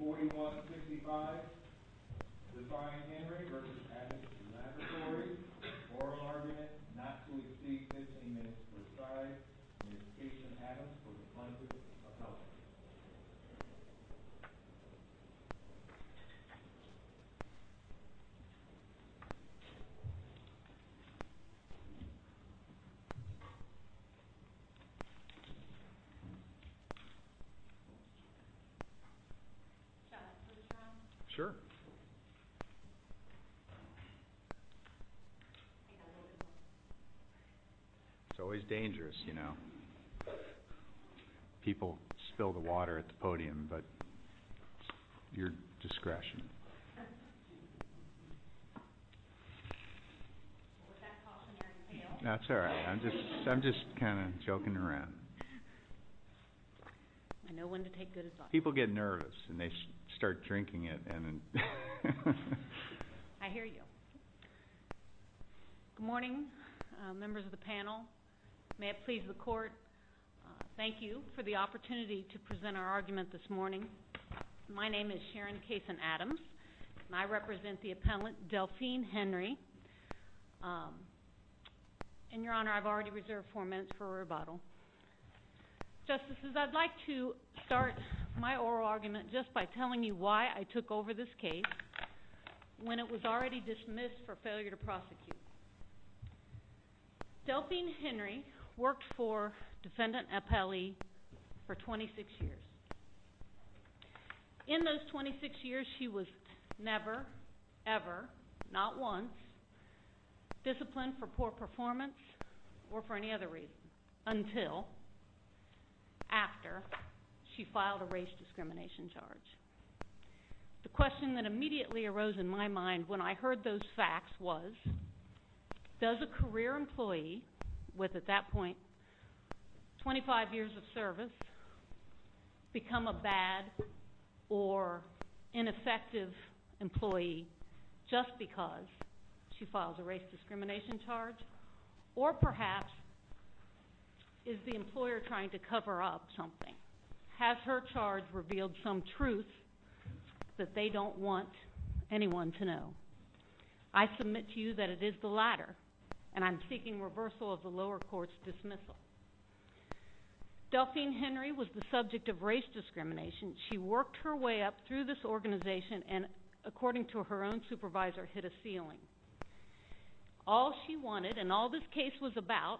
15-4165, Devine Henry v. Abbott Laboratories, Oral Argument, Not to Exceed 15 Minutes Precise, Notification of Addams for the Plenty of Health. Should I put this around? Sure. It's always dangerous, you know. People spill the water at the podium, but it's your discretion. Was that cautionary tale? No, it's all right. I'm just kind of joking around. I know when to take good advice. People get nervous, and they start drinking it. I hear you. Good morning, members of the panel. May it please the Court, thank you for the opportunity to present our argument this morning. My name is Sharon Kaysen-Adams, and I represent the appellant Delphine Henry. And, Your Honor, I've already reserved four minutes for rebuttal. Justices, I'd like to start my oral argument just by telling you why I took over this case when it was already dismissed for failure to prosecute. Delphine Henry worked for Defendant Appelli for 26 years. In those 26 years, she was never, ever, not once, disciplined for poor performance or for any other reason, until after she filed a race discrimination charge. The question that immediately arose in my mind when I heard those facts was, does a career employee with, at that point, 25 years of service, become a bad or ineffective employee just because she files a race discrimination charge? Or, perhaps, is the employer trying to cover up something? Has her charge revealed some truth that they don't want anyone to know? I submit to you that it is the latter, and I'm seeking reversal of the lower court's dismissal. Delphine Henry was the subject of race discrimination. She worked her way up through this organization and, according to her own supervisor, hit a ceiling. All she wanted, and all this case was about,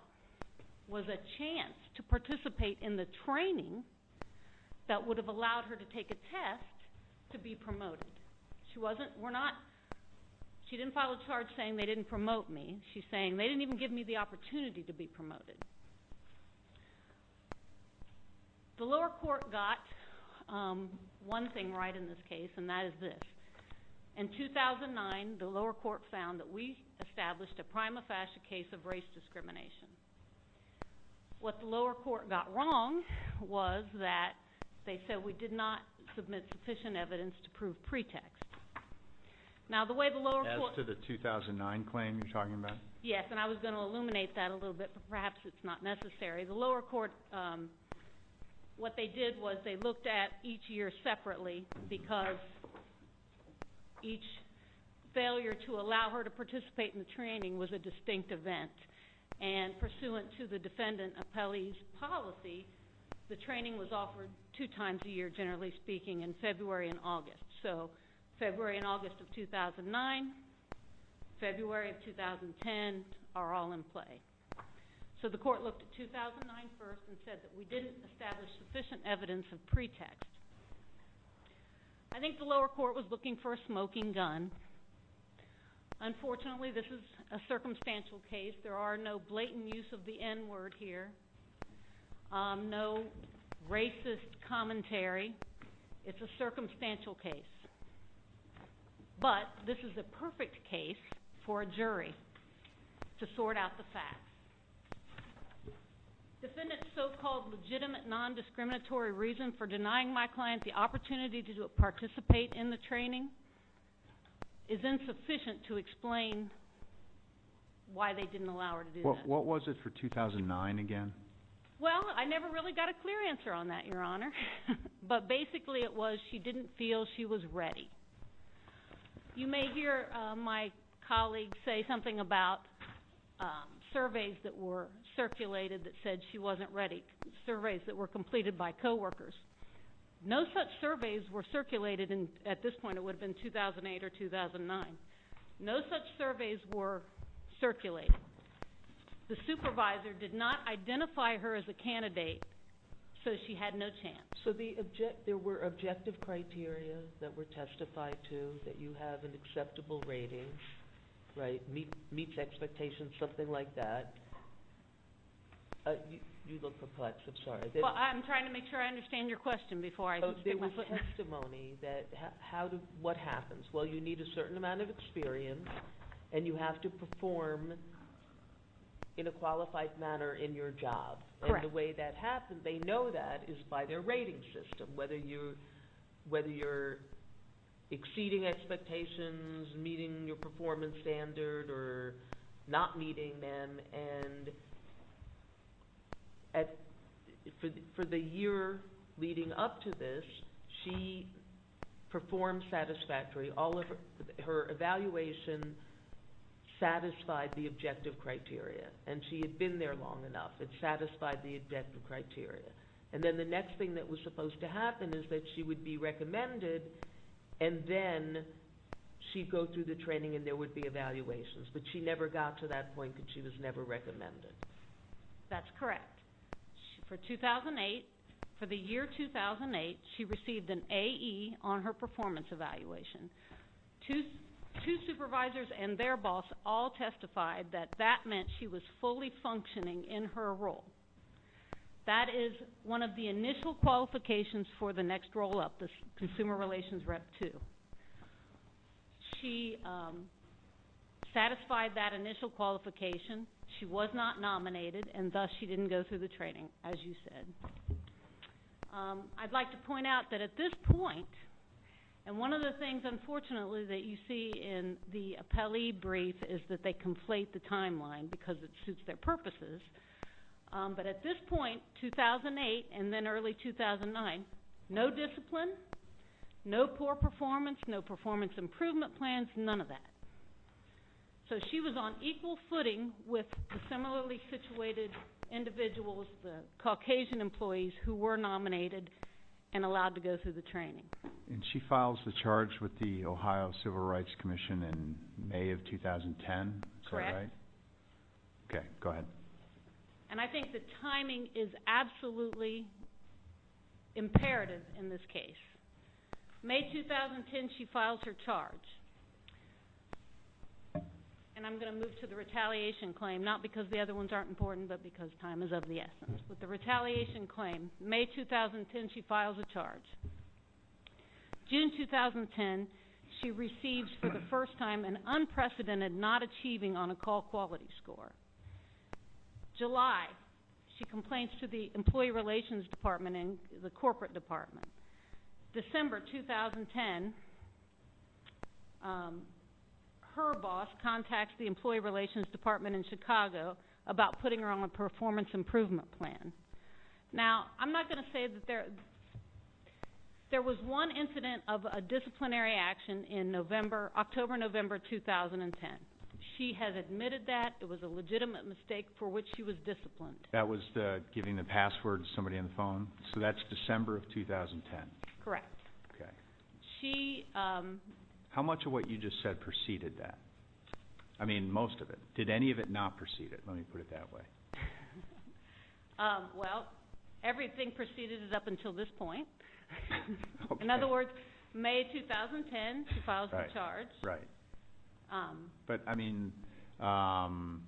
was a chance to participate in the training that would have allowed her to take a test to be promoted. She didn't file a charge saying they didn't promote me. She's saying they didn't even give me the opportunity to be promoted. The lower court got one thing right in this case, and that is this. In 2009, the lower court found that we established a prima facie case of race discrimination. What the lower court got wrong was that they said we did not submit sufficient evidence to prove pretext. As to the 2009 claim you're talking about? Yes, and I was going to illuminate that a little bit, but perhaps it's not necessary. The lower court, what they did was they looked at each year separately because each failure to allow her to participate in the training was a distinct event. And pursuant to the defendant appellee's policy, the training was offered two times a year, generally speaking, in February and August. So February and August of 2009, February of 2010 are all in play. So the court looked at 2009 first and said that we didn't establish sufficient evidence of pretext. I think the lower court was looking for a smoking gun. Unfortunately, this is a circumstantial case. There are no blatant use of the N-word here, no racist commentary. It's a circumstantial case. But this is a perfect case for a jury to sort out the facts. Defendant's so-called legitimate nondiscriminatory reason for denying my client the opportunity to participate in the training is insufficient to explain why they didn't allow her to do that. What was it for 2009 again? Well, I never really got a clear answer on that, Your Honor. But basically it was she didn't feel she was ready. You may hear my colleague say something about surveys that were circulated that said she wasn't ready, surveys that were completed by coworkers. No such surveys were circulated at this point. It would have been 2008 or 2009. No such surveys were circulated. The supervisor did not identify her as a candidate, so she had no chance. So there were objective criteria that were testified to that you have an acceptable rating, meets expectations, something like that. You look perplexed. I'm sorry. Well, I'm trying to make sure I understand your question before I speak. There was testimony that what happens? Well, you need a certain amount of experience, and you have to perform in a qualified manner in your job. Correct. And the way that happens, they know that, is by their rating system, whether you're exceeding expectations, meeting your performance standard, or not meeting them. And for the year leading up to this, she performed satisfactorily. All of her evaluation satisfied the objective criteria, and she had been there long enough. It satisfied the objective criteria. And then the next thing that was supposed to happen is that she would be recommended, and then she'd go through the training, and there would be evaluations. But she never got to that point because she was never recommended. That's correct. For 2008, for the year 2008, she received an AE on her performance evaluation. Two supervisors and their boss all testified that that meant she was fully functioning in her role. That is one of the initial qualifications for the next roll-up, the Consumer Relations Rep 2. She satisfied that initial qualification. She was not nominated, and thus she didn't go through the training, as you said. I'd like to point out that at this point, and one of the things, unfortunately, that you see in the appellee brief is that they conflate the timeline because it suits their purposes. But at this point, 2008 and then early 2009, no discipline, no poor performance, no performance improvement plans, none of that. So she was on equal footing with the similarly situated individuals, the Caucasian employees, who were nominated and allowed to go through the training. And she files the charge with the Ohio Civil Rights Commission in May of 2010, correct? Correct. Okay, go ahead. And I think the timing is absolutely imperative in this case. May 2010, she files her charge. And I'm going to move to the retaliation claim, not because the other ones aren't important, but because time is of the essence. With the retaliation claim, May 2010, she files a charge. June 2010, she receives for the first time an unprecedented not achieving on a call quality score. July, she complains to the Employee Relations Department and the Corporate Department. December 2010, her boss contacts the Employee Relations Department in Chicago about putting her on a performance improvement plan. Now, I'm not going to say that there was one incident of a disciplinary action in October, November 2010. She has admitted that. It was a legitimate mistake for which she was disciplined. That was giving the password to somebody on the phone? So that's December of 2010? Correct. Okay. How much of what you just said preceded that? I mean, most of it. Did any of it not precede it? Let me put it that way. Well, everything preceded it up until this point. Okay. In other words, May 2010, she files the charge. Right. But, I mean, all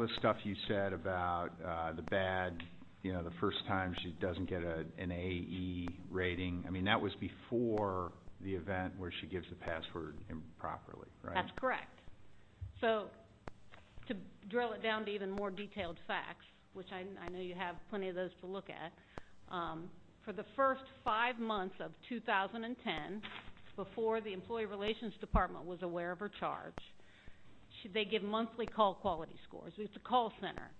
this stuff you said about the bad, you know, the first time she doesn't get an A.E. rating, I mean, that was before the event where she gives the password improperly, right? That's correct. So to drill it down to even more detailed facts, which I know you have plenty of those to look at, for the first five months of 2010, before the Employee Relations Department was aware of her charge, they give monthly call quality scores. It's a call center.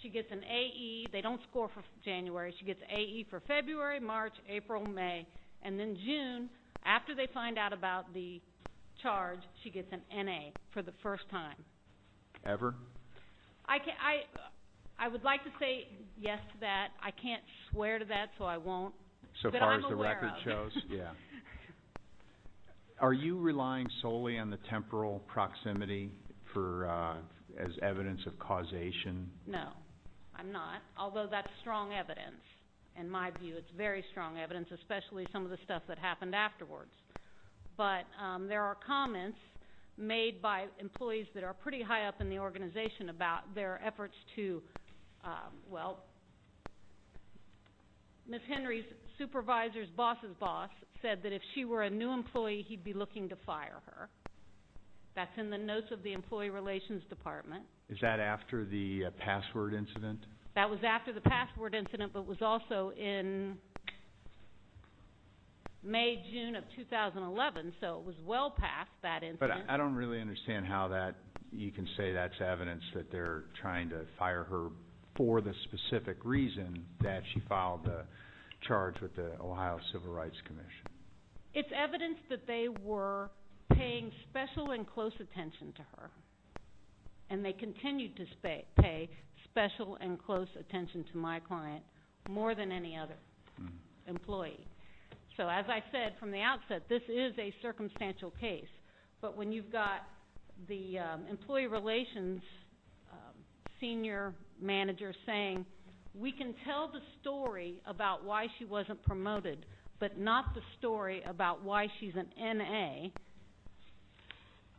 She gets an A.E. They don't score for January. She gets A.E. for February, March, April, May, and then June, after they find out about the charge, she gets an N.A. for the first time. Ever? I would like to say yes to that. I can't swear to that, so I won't, but I'm aware of it. So far as the record shows, yeah. Are you relying solely on the temporal proximity as evidence of causation? No, I'm not, although that's strong evidence. In my view, it's very strong evidence, especially some of the stuff that happened afterwards. But there are comments made by employees that are pretty high up in the organization about their efforts to, well, Ms. Henry's supervisor's boss's boss said that if she were a new employee, he'd be looking to fire her. That's in the notes of the Employee Relations Department. Is that after the password incident? That was after the password incident, but was also in May, June of 2011, so it was well past that incident. But I don't really understand how that you can say that's evidence that they're trying to fire her for the specific reason that she filed the charge with the Ohio Civil Rights Commission. It's evidence that they were paying special and close attention to her, and they continued to pay special and close attention to my client more than any other employee. So as I said from the outset, this is a circumstantial case. But when you've got the employee relations senior manager saying, we can tell the story about why she wasn't promoted, but not the story about why she's an N.A.,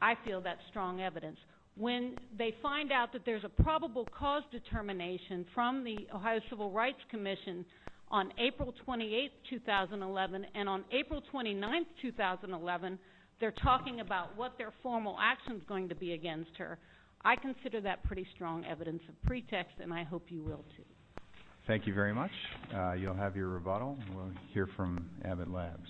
I feel that's strong evidence. When they find out that there's a probable cause determination from the Ohio Civil Rights Commission on April 28, 2011, and on April 29, 2011, they're talking about what their formal action's going to be against her, I consider that pretty strong evidence of pretext, and I hope you will, too. Thank you very much. You'll have your rebuttal, and we'll hear from Abbott Labs.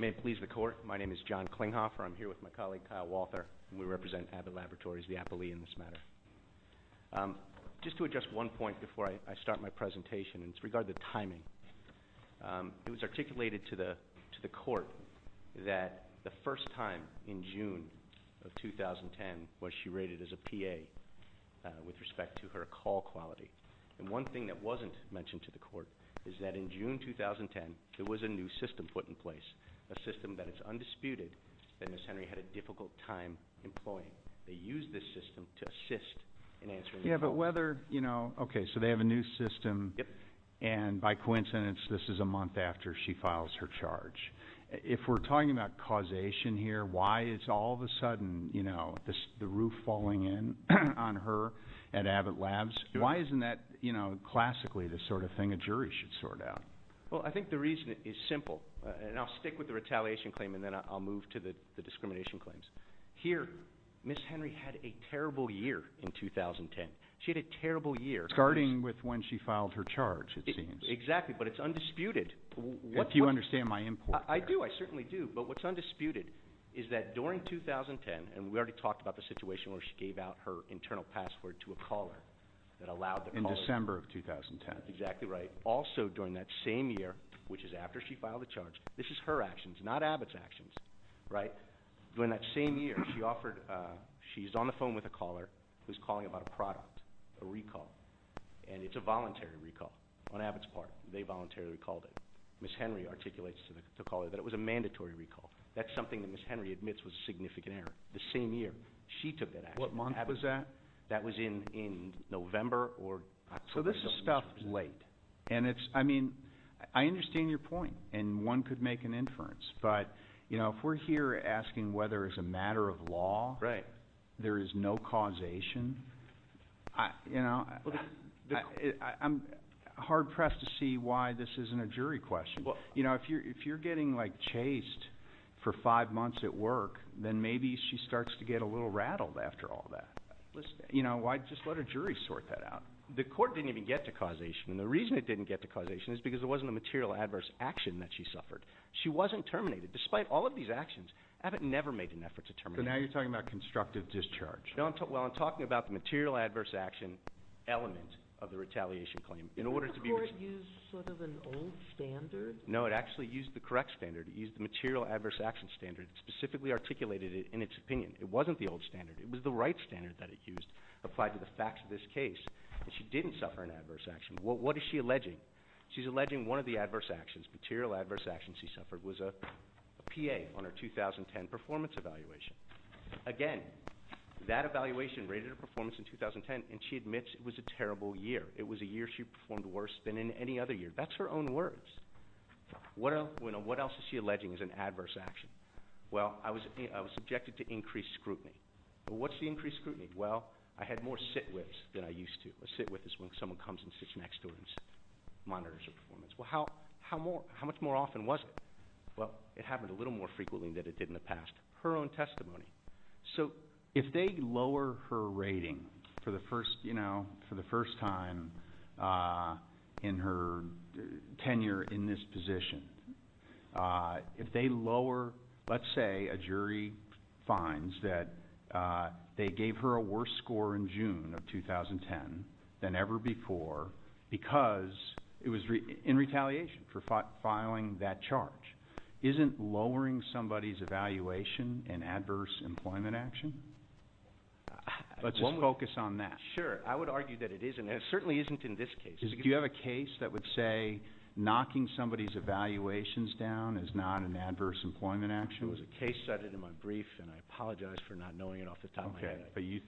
May it please the Court, my name is John Klinghoffer. I'm here with my colleague, Kyle Walther, and we represent Abbott Laboratories, the appellee in this matter. Just to address one point before I start my presentation, and it's regarding the timing. It was articulated to the Court that the first time in June of 2010 was she rated as a P.A. with respect to her call quality. And one thing that wasn't mentioned to the Court is that in June 2010, there was a new system put in place, a system that it's undisputed that Ms. Henry had a difficult time employing. They used this system to assist in answering the call. Yeah, but whether – okay, so they have a new system, and by coincidence, this is a month after she files her charge. If we're talking about causation here, why is all of a sudden the roof falling in on her at Abbott Labs? Why isn't that classically the sort of thing a jury should sort out? Well, I think the reason is simple, and I'll stick with the retaliation claim, and then I'll move to the discrimination claims. Here, Ms. Henry had a terrible year in 2010. She had a terrible year. Starting with when she filed her charge, it seems. Exactly, but it's undisputed. If you understand my import there. I do, I certainly do. But what's undisputed is that during 2010, and we already talked about the situation where she gave out her internal password to a caller that allowed the call. In December of 2010. Exactly right. Also during that same year, which is after she filed the charge, this is her actions, not Abbott's actions, right? During that same year, she's on the phone with a caller who's calling about a product, a recall, and it's a voluntary recall on Abbott's part. They voluntarily recalled it. Ms. Henry articulates to the caller that it was a mandatory recall. That's something that Ms. Henry admits was a significant error the same year she took that action. What month was that? That was in November or October. So this is stuff late. I understand your point, and one could make an inference. But if we're here asking whether it's a matter of law, there is no causation, I'm hard pressed to see why this isn't a jury question. If you're getting chased for five months at work, then maybe she starts to get a little rattled after all that. Just let a jury sort that out. The court didn't even get to causation, and the reason it didn't get to causation is because it wasn't a material adverse action that she suffered. She wasn't terminated. Despite all of these actions, Abbott never made an effort to terminate her. So now you're talking about constructive discharge. Well, I'm talking about the material adverse action element of the retaliation claim. Didn't the court use sort of an old standard? No, it actually used the correct standard. It used the material adverse action standard. It specifically articulated it in its opinion. It wasn't the old standard. It was the right standard that it used, applied to the facts of this case. And she didn't suffer an adverse action. What is she alleging? She's alleging one of the adverse actions, material adverse actions she suffered, was a PA on her 2010 performance evaluation. Again, that evaluation rated her performance in 2010, and she admits it was a terrible year. It was a year she performed worse than in any other year. That's her own words. What else is she alleging is an adverse action? Well, I was subjected to increased scrutiny. What's the increased scrutiny? Well, I had more sit whips than I used to. A sit whip is when someone comes and sits next to her and monitors her performance. Well, how much more often was it? Well, it happened a little more frequently than it did in the past. Her own testimony. So if they lower her rating for the first time in her tenure in this position, if they lower, let's say a jury finds that they gave her a worse score in June of 2010 than ever before because it was in retaliation for filing that charge, isn't lowering somebody's evaluation an adverse employment action? Let's just focus on that. Sure. I would argue that it isn't, and it certainly isn't in this case. Do you have a case that would say knocking somebody's evaluations down is not an adverse employment action? There was a case cited in my brief, and I apologize for not knowing it off the top of my head. Okay. Do you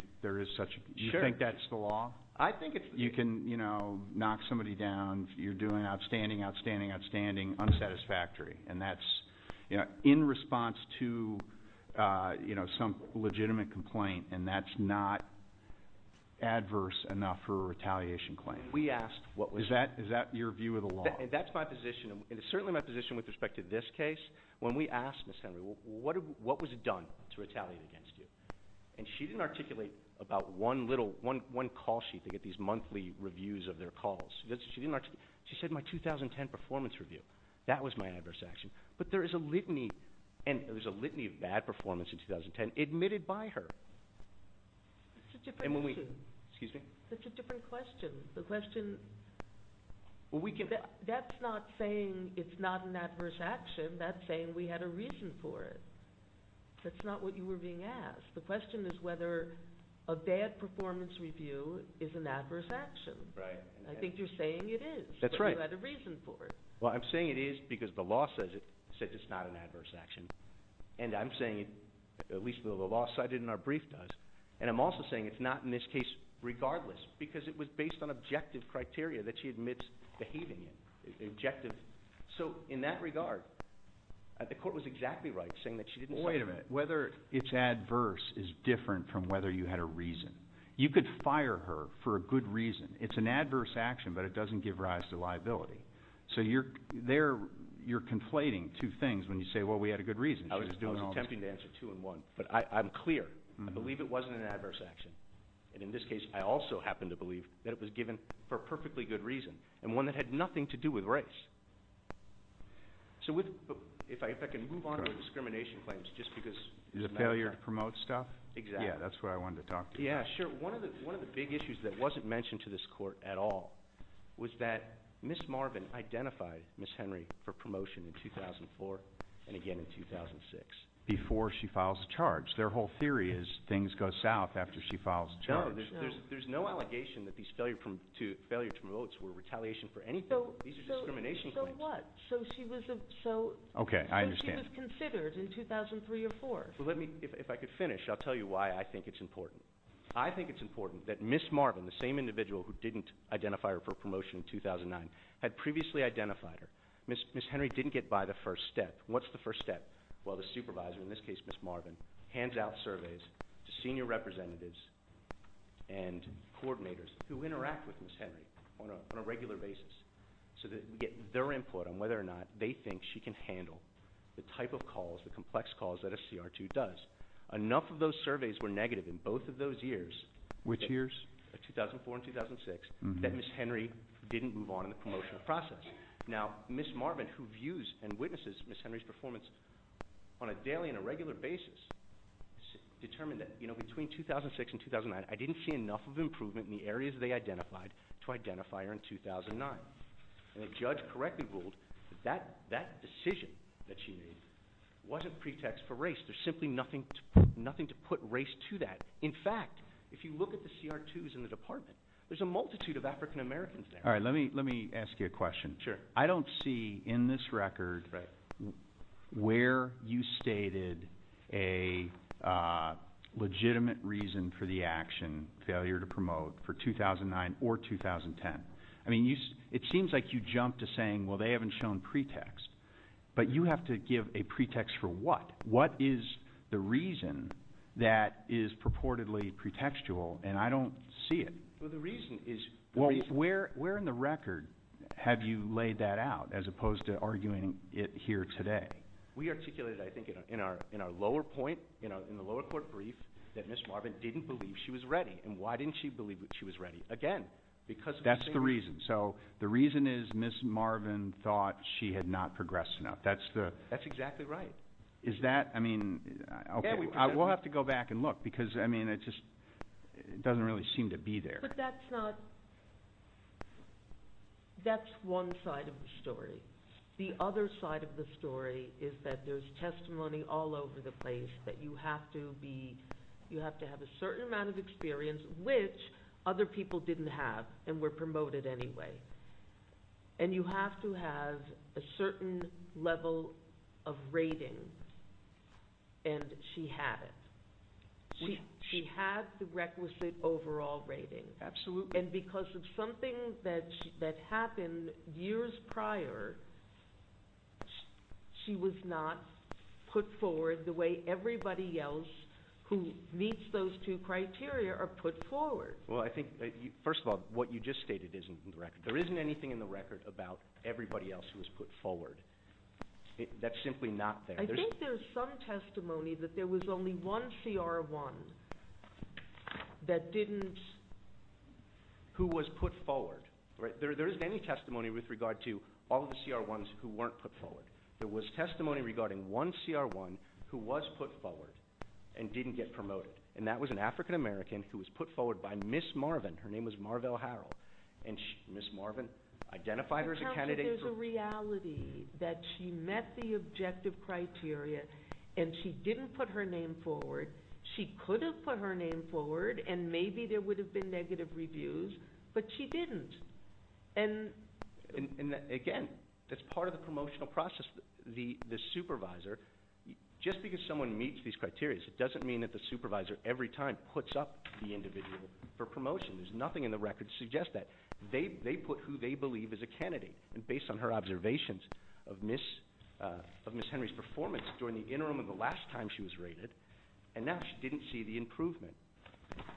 think that's the law? I think it's the law. You can knock somebody down, you're doing outstanding, outstanding, outstanding, unsatisfactory, and that's in response to some legitimate complaint, and that's not adverse enough for a retaliation claim. Is that your view of the law? That's my position, and it's certainly my position with respect to this case. When we asked Ms. Henry, what was done to retaliate against you? And she didn't articulate about one little, one call sheet. They get these monthly reviews of their calls. She didn't articulate. She said my 2010 performance review. That was my adverse action. But there is a litany, and there was a litany of bad performance in 2010 admitted by her. That's a different question. Excuse me? That's a different question. The question, that's not saying it's not an adverse action. That's saying we had a reason for it. That's not what you were being asked. The question is whether a bad performance review is an adverse action. Right. I think you're saying it is. That's right. You had a reason for it. Well, I'm saying it is because the law says it's not an adverse action, and I'm saying, at least the law cited in our brief does, and I'm also saying it's not in this case regardless because it was based on objective criteria that she admits behaving in, objective. So in that regard, the court was exactly right saying that she didn't say whether it's adverse is different from whether you had a reason. You could fire her for a good reason. It's an adverse action, but it doesn't give rise to liability. So you're conflating two things when you say, well, we had a good reason. I was attempting to answer two and one, but I'm clear. I believe it wasn't an adverse action, and in this case I also happen to believe that it was given for a perfectly good reason and one that had nothing to do with race. So if I can move on to discrimination claims just because. The failure to promote stuff? Exactly. Yeah, that's what I wanted to talk to you about. Yeah, sure. One of the big issues that wasn't mentioned to this court at all was that Ms. Marvin identified Ms. Henry for promotion in 2004 and again in 2006. Before she files a charge. Their whole theory is things go south after she files a charge. No, there's no allegation that these failure to promote were retaliation for anything. These are discrimination claims. So what? So she was considered in 2003 or 2004? If I could finish, I'll tell you why I think it's important. I think it's important that Ms. Marvin, the same individual who didn't identify her for promotion in 2009, had previously identified her. Ms. Henry didn't get by the first step. What's the first step? Well, the supervisor, in this case Ms. Marvin, hands out surveys to senior representatives and coordinators who interact with Ms. Henry on a regular basis. So that we get their input on whether or not they think she can handle the type of calls, the complex calls that a CR2 does. Enough of those surveys were negative in both of those years. Which years? 2004 and 2006 that Ms. Henry didn't move on in the promotional process. Now, Ms. Marvin, who views and witnesses Ms. Henry's performance on a daily and a regular basis, determined that between 2006 and 2009, I didn't see enough of improvement in the areas they identified to identify her in 2009. And the judge correctly ruled that that decision that she made wasn't pretext for race. There's simply nothing to put race to that. In fact, if you look at the CR2s in the department, there's a multitude of African Americans there. All right. Let me ask you a question. Sure. I don't see in this record where you stated a legitimate reason for the action, failure to promote, for 2009 or 2010. I mean, it seems like you jumped to saying, well, they haven't shown pretext. But you have to give a pretext for what? What is the reason that is purportedly pretextual? And I don't see it. Well, where in the record have you laid that out as opposed to arguing it here today? We articulated, I think, in our lower point, in the lower court brief, that Ms. Marvin didn't believe she was ready. And why didn't she believe that she was ready? Again, because of Ms. Henry. That's the reason. So the reason is Ms. Marvin thought she had not progressed enough. That's exactly right. Is that – I mean, okay. Because, I mean, it just doesn't really seem to be there. But that's not – that's one side of the story. The other side of the story is that there's testimony all over the place that you have to be – you have to have a certain amount of experience, which other people didn't have and were promoted anyway. And you have to have a certain level of rating. And she had it. She had the requisite overall rating. Absolutely. And because of something that happened years prior, she was not put forward the way everybody else who meets those two criteria are put forward. Well, I think, first of all, what you just stated isn't in the record. There isn't anything in the record about everybody else who was put forward. That's simply not there. I think there's some testimony that there was only one CR-1 that didn't – Who was put forward. There isn't any testimony with regard to all the CR-1s who weren't put forward. There was testimony regarding one CR-1 who was put forward and didn't get promoted. And that was an African-American who was put forward by Ms. Marvin. Her name was Marvell Harrell. And Ms. Marvin identified her as a candidate for – And she didn't put her name forward. She could have put her name forward, and maybe there would have been negative reviews, but she didn't. And again, that's part of the promotional process. The supervisor – just because someone meets these criteria, it doesn't mean that the supervisor every time puts up the individual for promotion. There's nothing in the record to suggest that. They put who they believe is a candidate. And based on her observations of Ms. Henry's performance during the interim and the last time she was rated, and now she didn't see the improvement.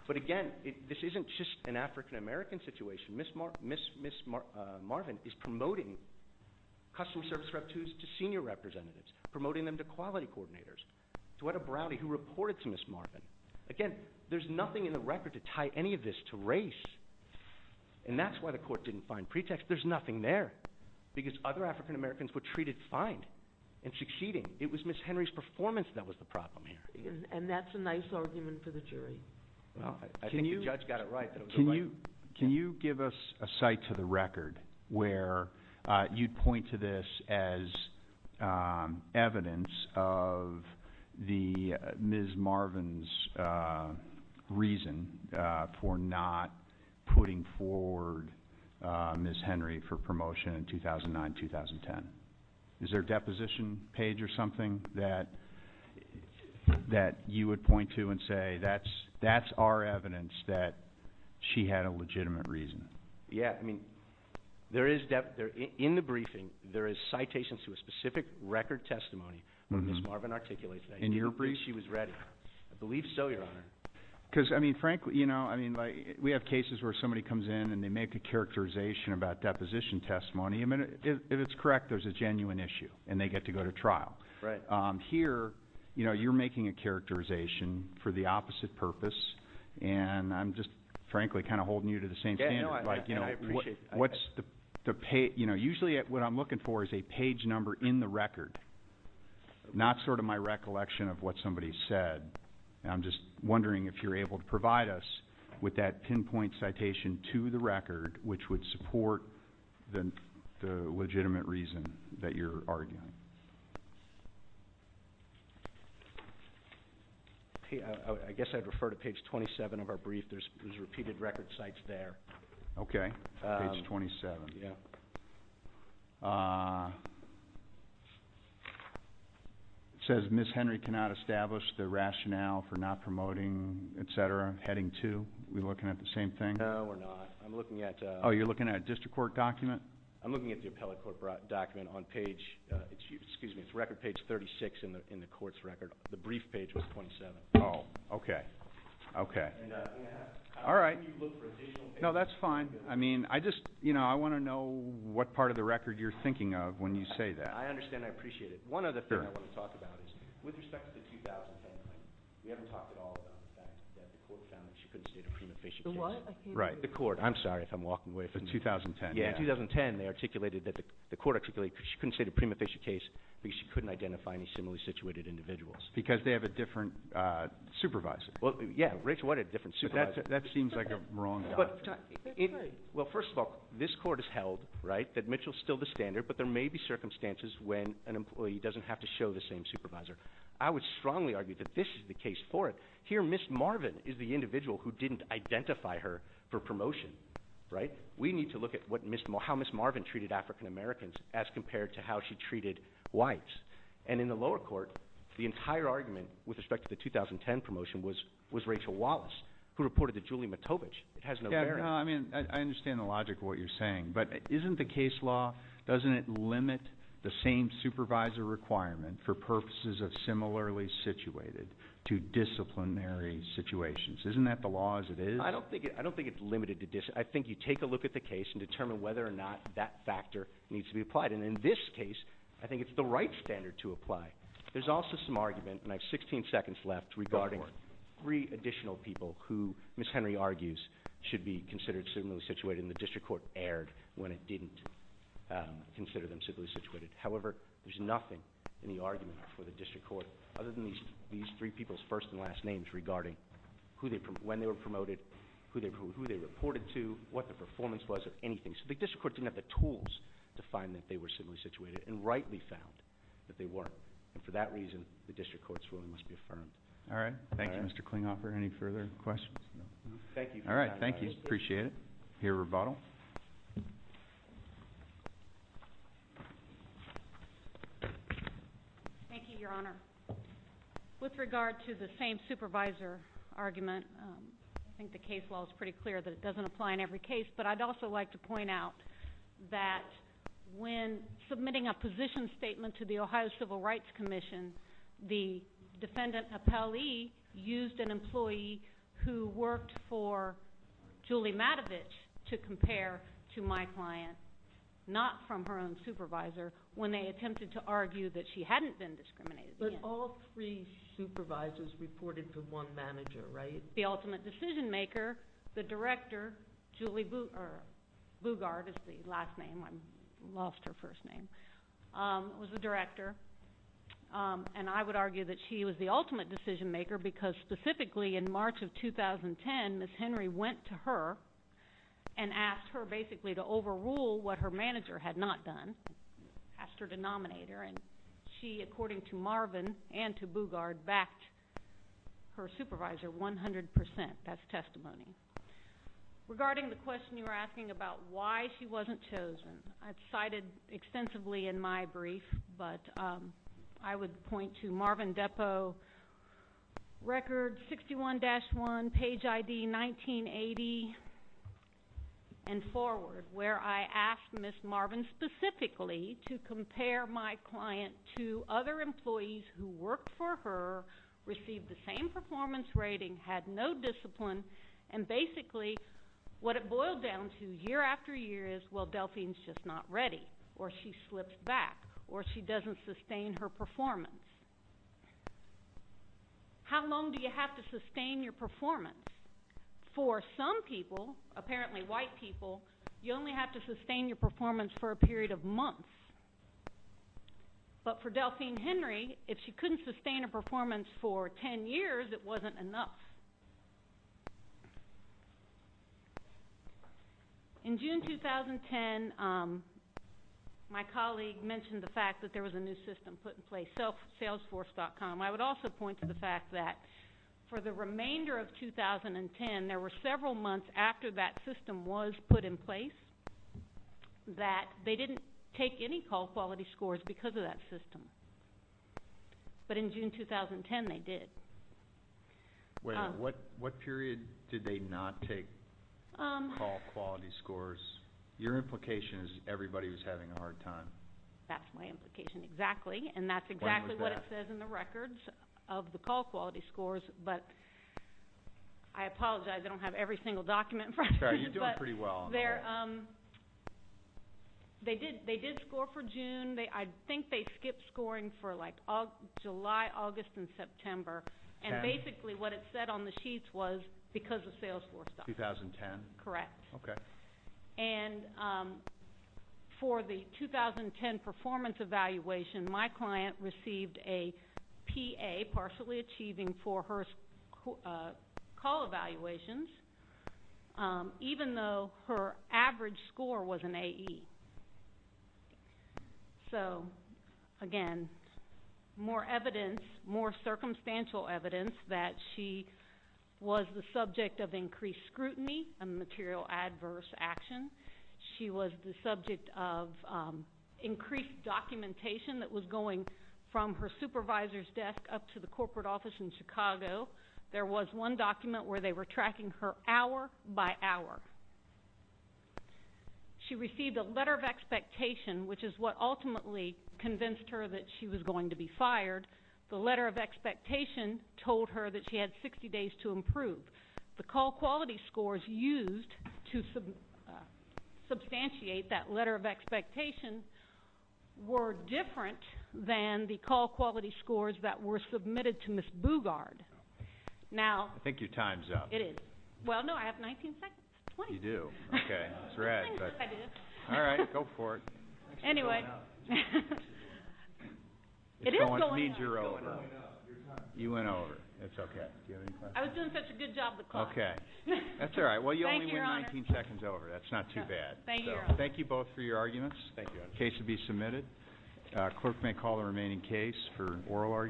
But again, this isn't just an African-American situation. Ms. Marvin is promoting custom-service REV-2s to senior representatives, promoting them to quality coordinators. Toetta Browdy, who reported to Ms. Marvin. Again, there's nothing in the record to tie any of this to race. And that's why the court didn't find pretext. There's nothing there, because other African-Americans were treated fine and succeeding. It was Ms. Henry's performance that was the problem here. And that's a nice argument for the jury. I think the judge got it right. Can you give us a cite to the record where you'd point to this as evidence of Ms. Marvin's reason for not putting forward Ms. Henry for promotion in 2009-2010? Is there a deposition page or something that you would point to and say that's our evidence that she had a legitimate reason? Yeah. I mean, in the briefing, there is citations to a specific record testimony that Ms. Marvin articulated. In your brief? She was ready. I believe so, Your Honor. Because, I mean, frankly, you know, we have cases where somebody comes in and they make a characterization about deposition testimony. If it's correct, there's a genuine issue, and they get to go to trial. Right. Here, you know, you're making a characterization for the opposite purpose. And I'm just, frankly, kind of holding you to the same standard. Yeah, no, I appreciate that. You know, usually what I'm looking for is a page number in the record, not sort of my recollection of what somebody said. And I'm just wondering if you're able to provide us with that pinpoint citation to the record which would support the legitimate reason that you're arguing. I guess I'd refer to page 27 of our brief. There's repeated record cites there. Okay. Page 27. Yeah. It says, Ms. Henry cannot establish the rationale for not promoting, et cetera, heading two. Are we looking at the same thing? No, we're not. I'm looking at a – Oh, you're looking at a district court document? I'm looking at the appellate court document on page – excuse me, it's record page 36 in the court's record. The brief page was 27. Oh, okay. Okay. And we have – All right. How can you look for additional – No, that's fine. I mean, I just – you know, I want to know what part of the record you're thinking of when you say that. I understand. I appreciate it. One other thing I want to talk about is with respect to the 2010 claim, we haven't talked at all about the fact that the court found that she couldn't state a prima facie case. The what? Right. The court. I'm sorry if I'm walking away from – The 2010. Yeah. In 2010, they articulated that – the court articulated that she couldn't state a prima facie case because she couldn't identify any similarly situated individuals. Because they have a different supervisor. Well, yeah. Rachel White had a different supervisor. That seems like a wrong – Well, first of all, this court has held, right, that Mitchell is still the standard, but there may be circumstances when an employee doesn't have to show the same supervisor. I would strongly argue that this is the case for it. Here, Ms. Marvin is the individual who didn't identify her for promotion, right? We need to look at what Ms. – how Ms. Marvin treated African-Americans as compared to how she treated whites. And in the lower court, the entire argument with respect to the 2010 promotion was Rachel Wallace, who reported that Julie Matovich, it has no bearing – Yeah, no, I mean, I understand the logic of what you're saying. But isn't the case law – doesn't it limit the same supervisor requirement for purposes of similarly situated to disciplinary situations? Isn't that the law as it is? I don't think it's limited to – I think you take a look at the case and determine whether or not that factor needs to be applied. And in this case, I think it's the right standard to apply. There's also some argument, and I have 16 seconds left, regarding three additional people who Ms. Henry argues should be considered similarly situated, and the district court erred when it didn't consider them similarly situated. However, there's nothing in the argument for the district court, other than these three people's first and last names, regarding who they – when they were promoted, who they reported to, what the performance was, or anything. So the district court didn't have the tools to find that they were similarly situated, and rightly found that they weren't. And for that reason, the district court's ruling must be affirmed. All right. Thank you, Mr. Klinghoffer. Any further questions? No. All right. Thank you. Appreciate it. I hear a rebuttal. Thank you, Your Honor. With regard to the same supervisor argument, I think the case law is pretty clear that it doesn't apply in every case. But I'd also like to point out that when submitting a position statement to the Ohio Civil Rights Commission, the defendant, Appellee, used an employee who worked for Julie Matovich to compare to my client, not from her own supervisor, when they attempted to argue that she hadn't been discriminated against. But all three supervisors reported to one manager, right? The ultimate decision-maker, the director, Julie Bugard is the last name. I lost her first name. It was the director. And I would argue that she was the ultimate decision-maker because specifically in March of 2010, Ms. Henry went to her and asked her basically to overrule what her manager had not done, asked her to nominate her. And she, according to Marvin and to Bugard, backed her supervisor 100 percent. That's testimony. Regarding the question you were asking about why she wasn't chosen, I've cited extensively in my brief, but I would point to Marvin Depo, record 61-1, page ID 1980 and forward, where I asked Ms. Marvin specifically to compare my client to other employees who worked for her, received the same performance rating, had no discipline, and basically what it boiled down to year after year is, well, Delphine's just not ready, or she slips back, or she doesn't sustain her performance. How long do you have to sustain your performance? For some people, apparently white people, you only have to sustain your performance for a period of months. But for Delphine Henry, if she couldn't sustain her performance for 10 years, it wasn't enough. In June 2010, my colleague mentioned the fact that there was a new system put in place, Salesforce.com. I would also point to the fact that for the remainder of 2010, there were several months after that system was put in place that they didn't take any call quality scores because of that system. But in June 2010, they did. What period did they not take call quality scores? Your implication is everybody was having a hard time. That's my implication, exactly. And that's exactly what it says in the records of the call quality scores. But I apologize, I don't have every single document. You're doing pretty well. They did score for June. I think they skipped scoring for like July, August, and September. And basically what it said on the sheets was because of Salesforce.com. 2010? Correct. Okay. And for the 2010 performance evaluation, my client received a PA, partially achieving for her call evaluations, even though her average score was an AE. So, again, more evidence, more circumstantial evidence that she was the subject of increased scrutiny and material adverse action. She was the subject of increased documentation that was going from her supervisor's desk up to the corporate office in Chicago. There was one document where they were tracking her hour by hour. She received a letter of expectation, which is what ultimately convinced her that she was going to be fired. The letter of expectation told her that she had 60 days to improve. The call quality scores used to substantiate that letter of expectation were different than the call quality scores that were submitted to Ms. Bugard. I think your time's up. It is. Well, no, I have 19 seconds. You do? Okay. That's rad. All right. Go for it. Anyway. It is going up. It means you're over. You went over. It's okay. Do you have any questions? I was doing such a good job of the clock. Okay. Thank you, Your Honor. Well, you only went 19 seconds over. That's not too bad. Thank you, Your Honor. Thank you both for your arguments. Thank you, Your Honor. The case will be submitted. Clerk may call the remaining case for oral argument.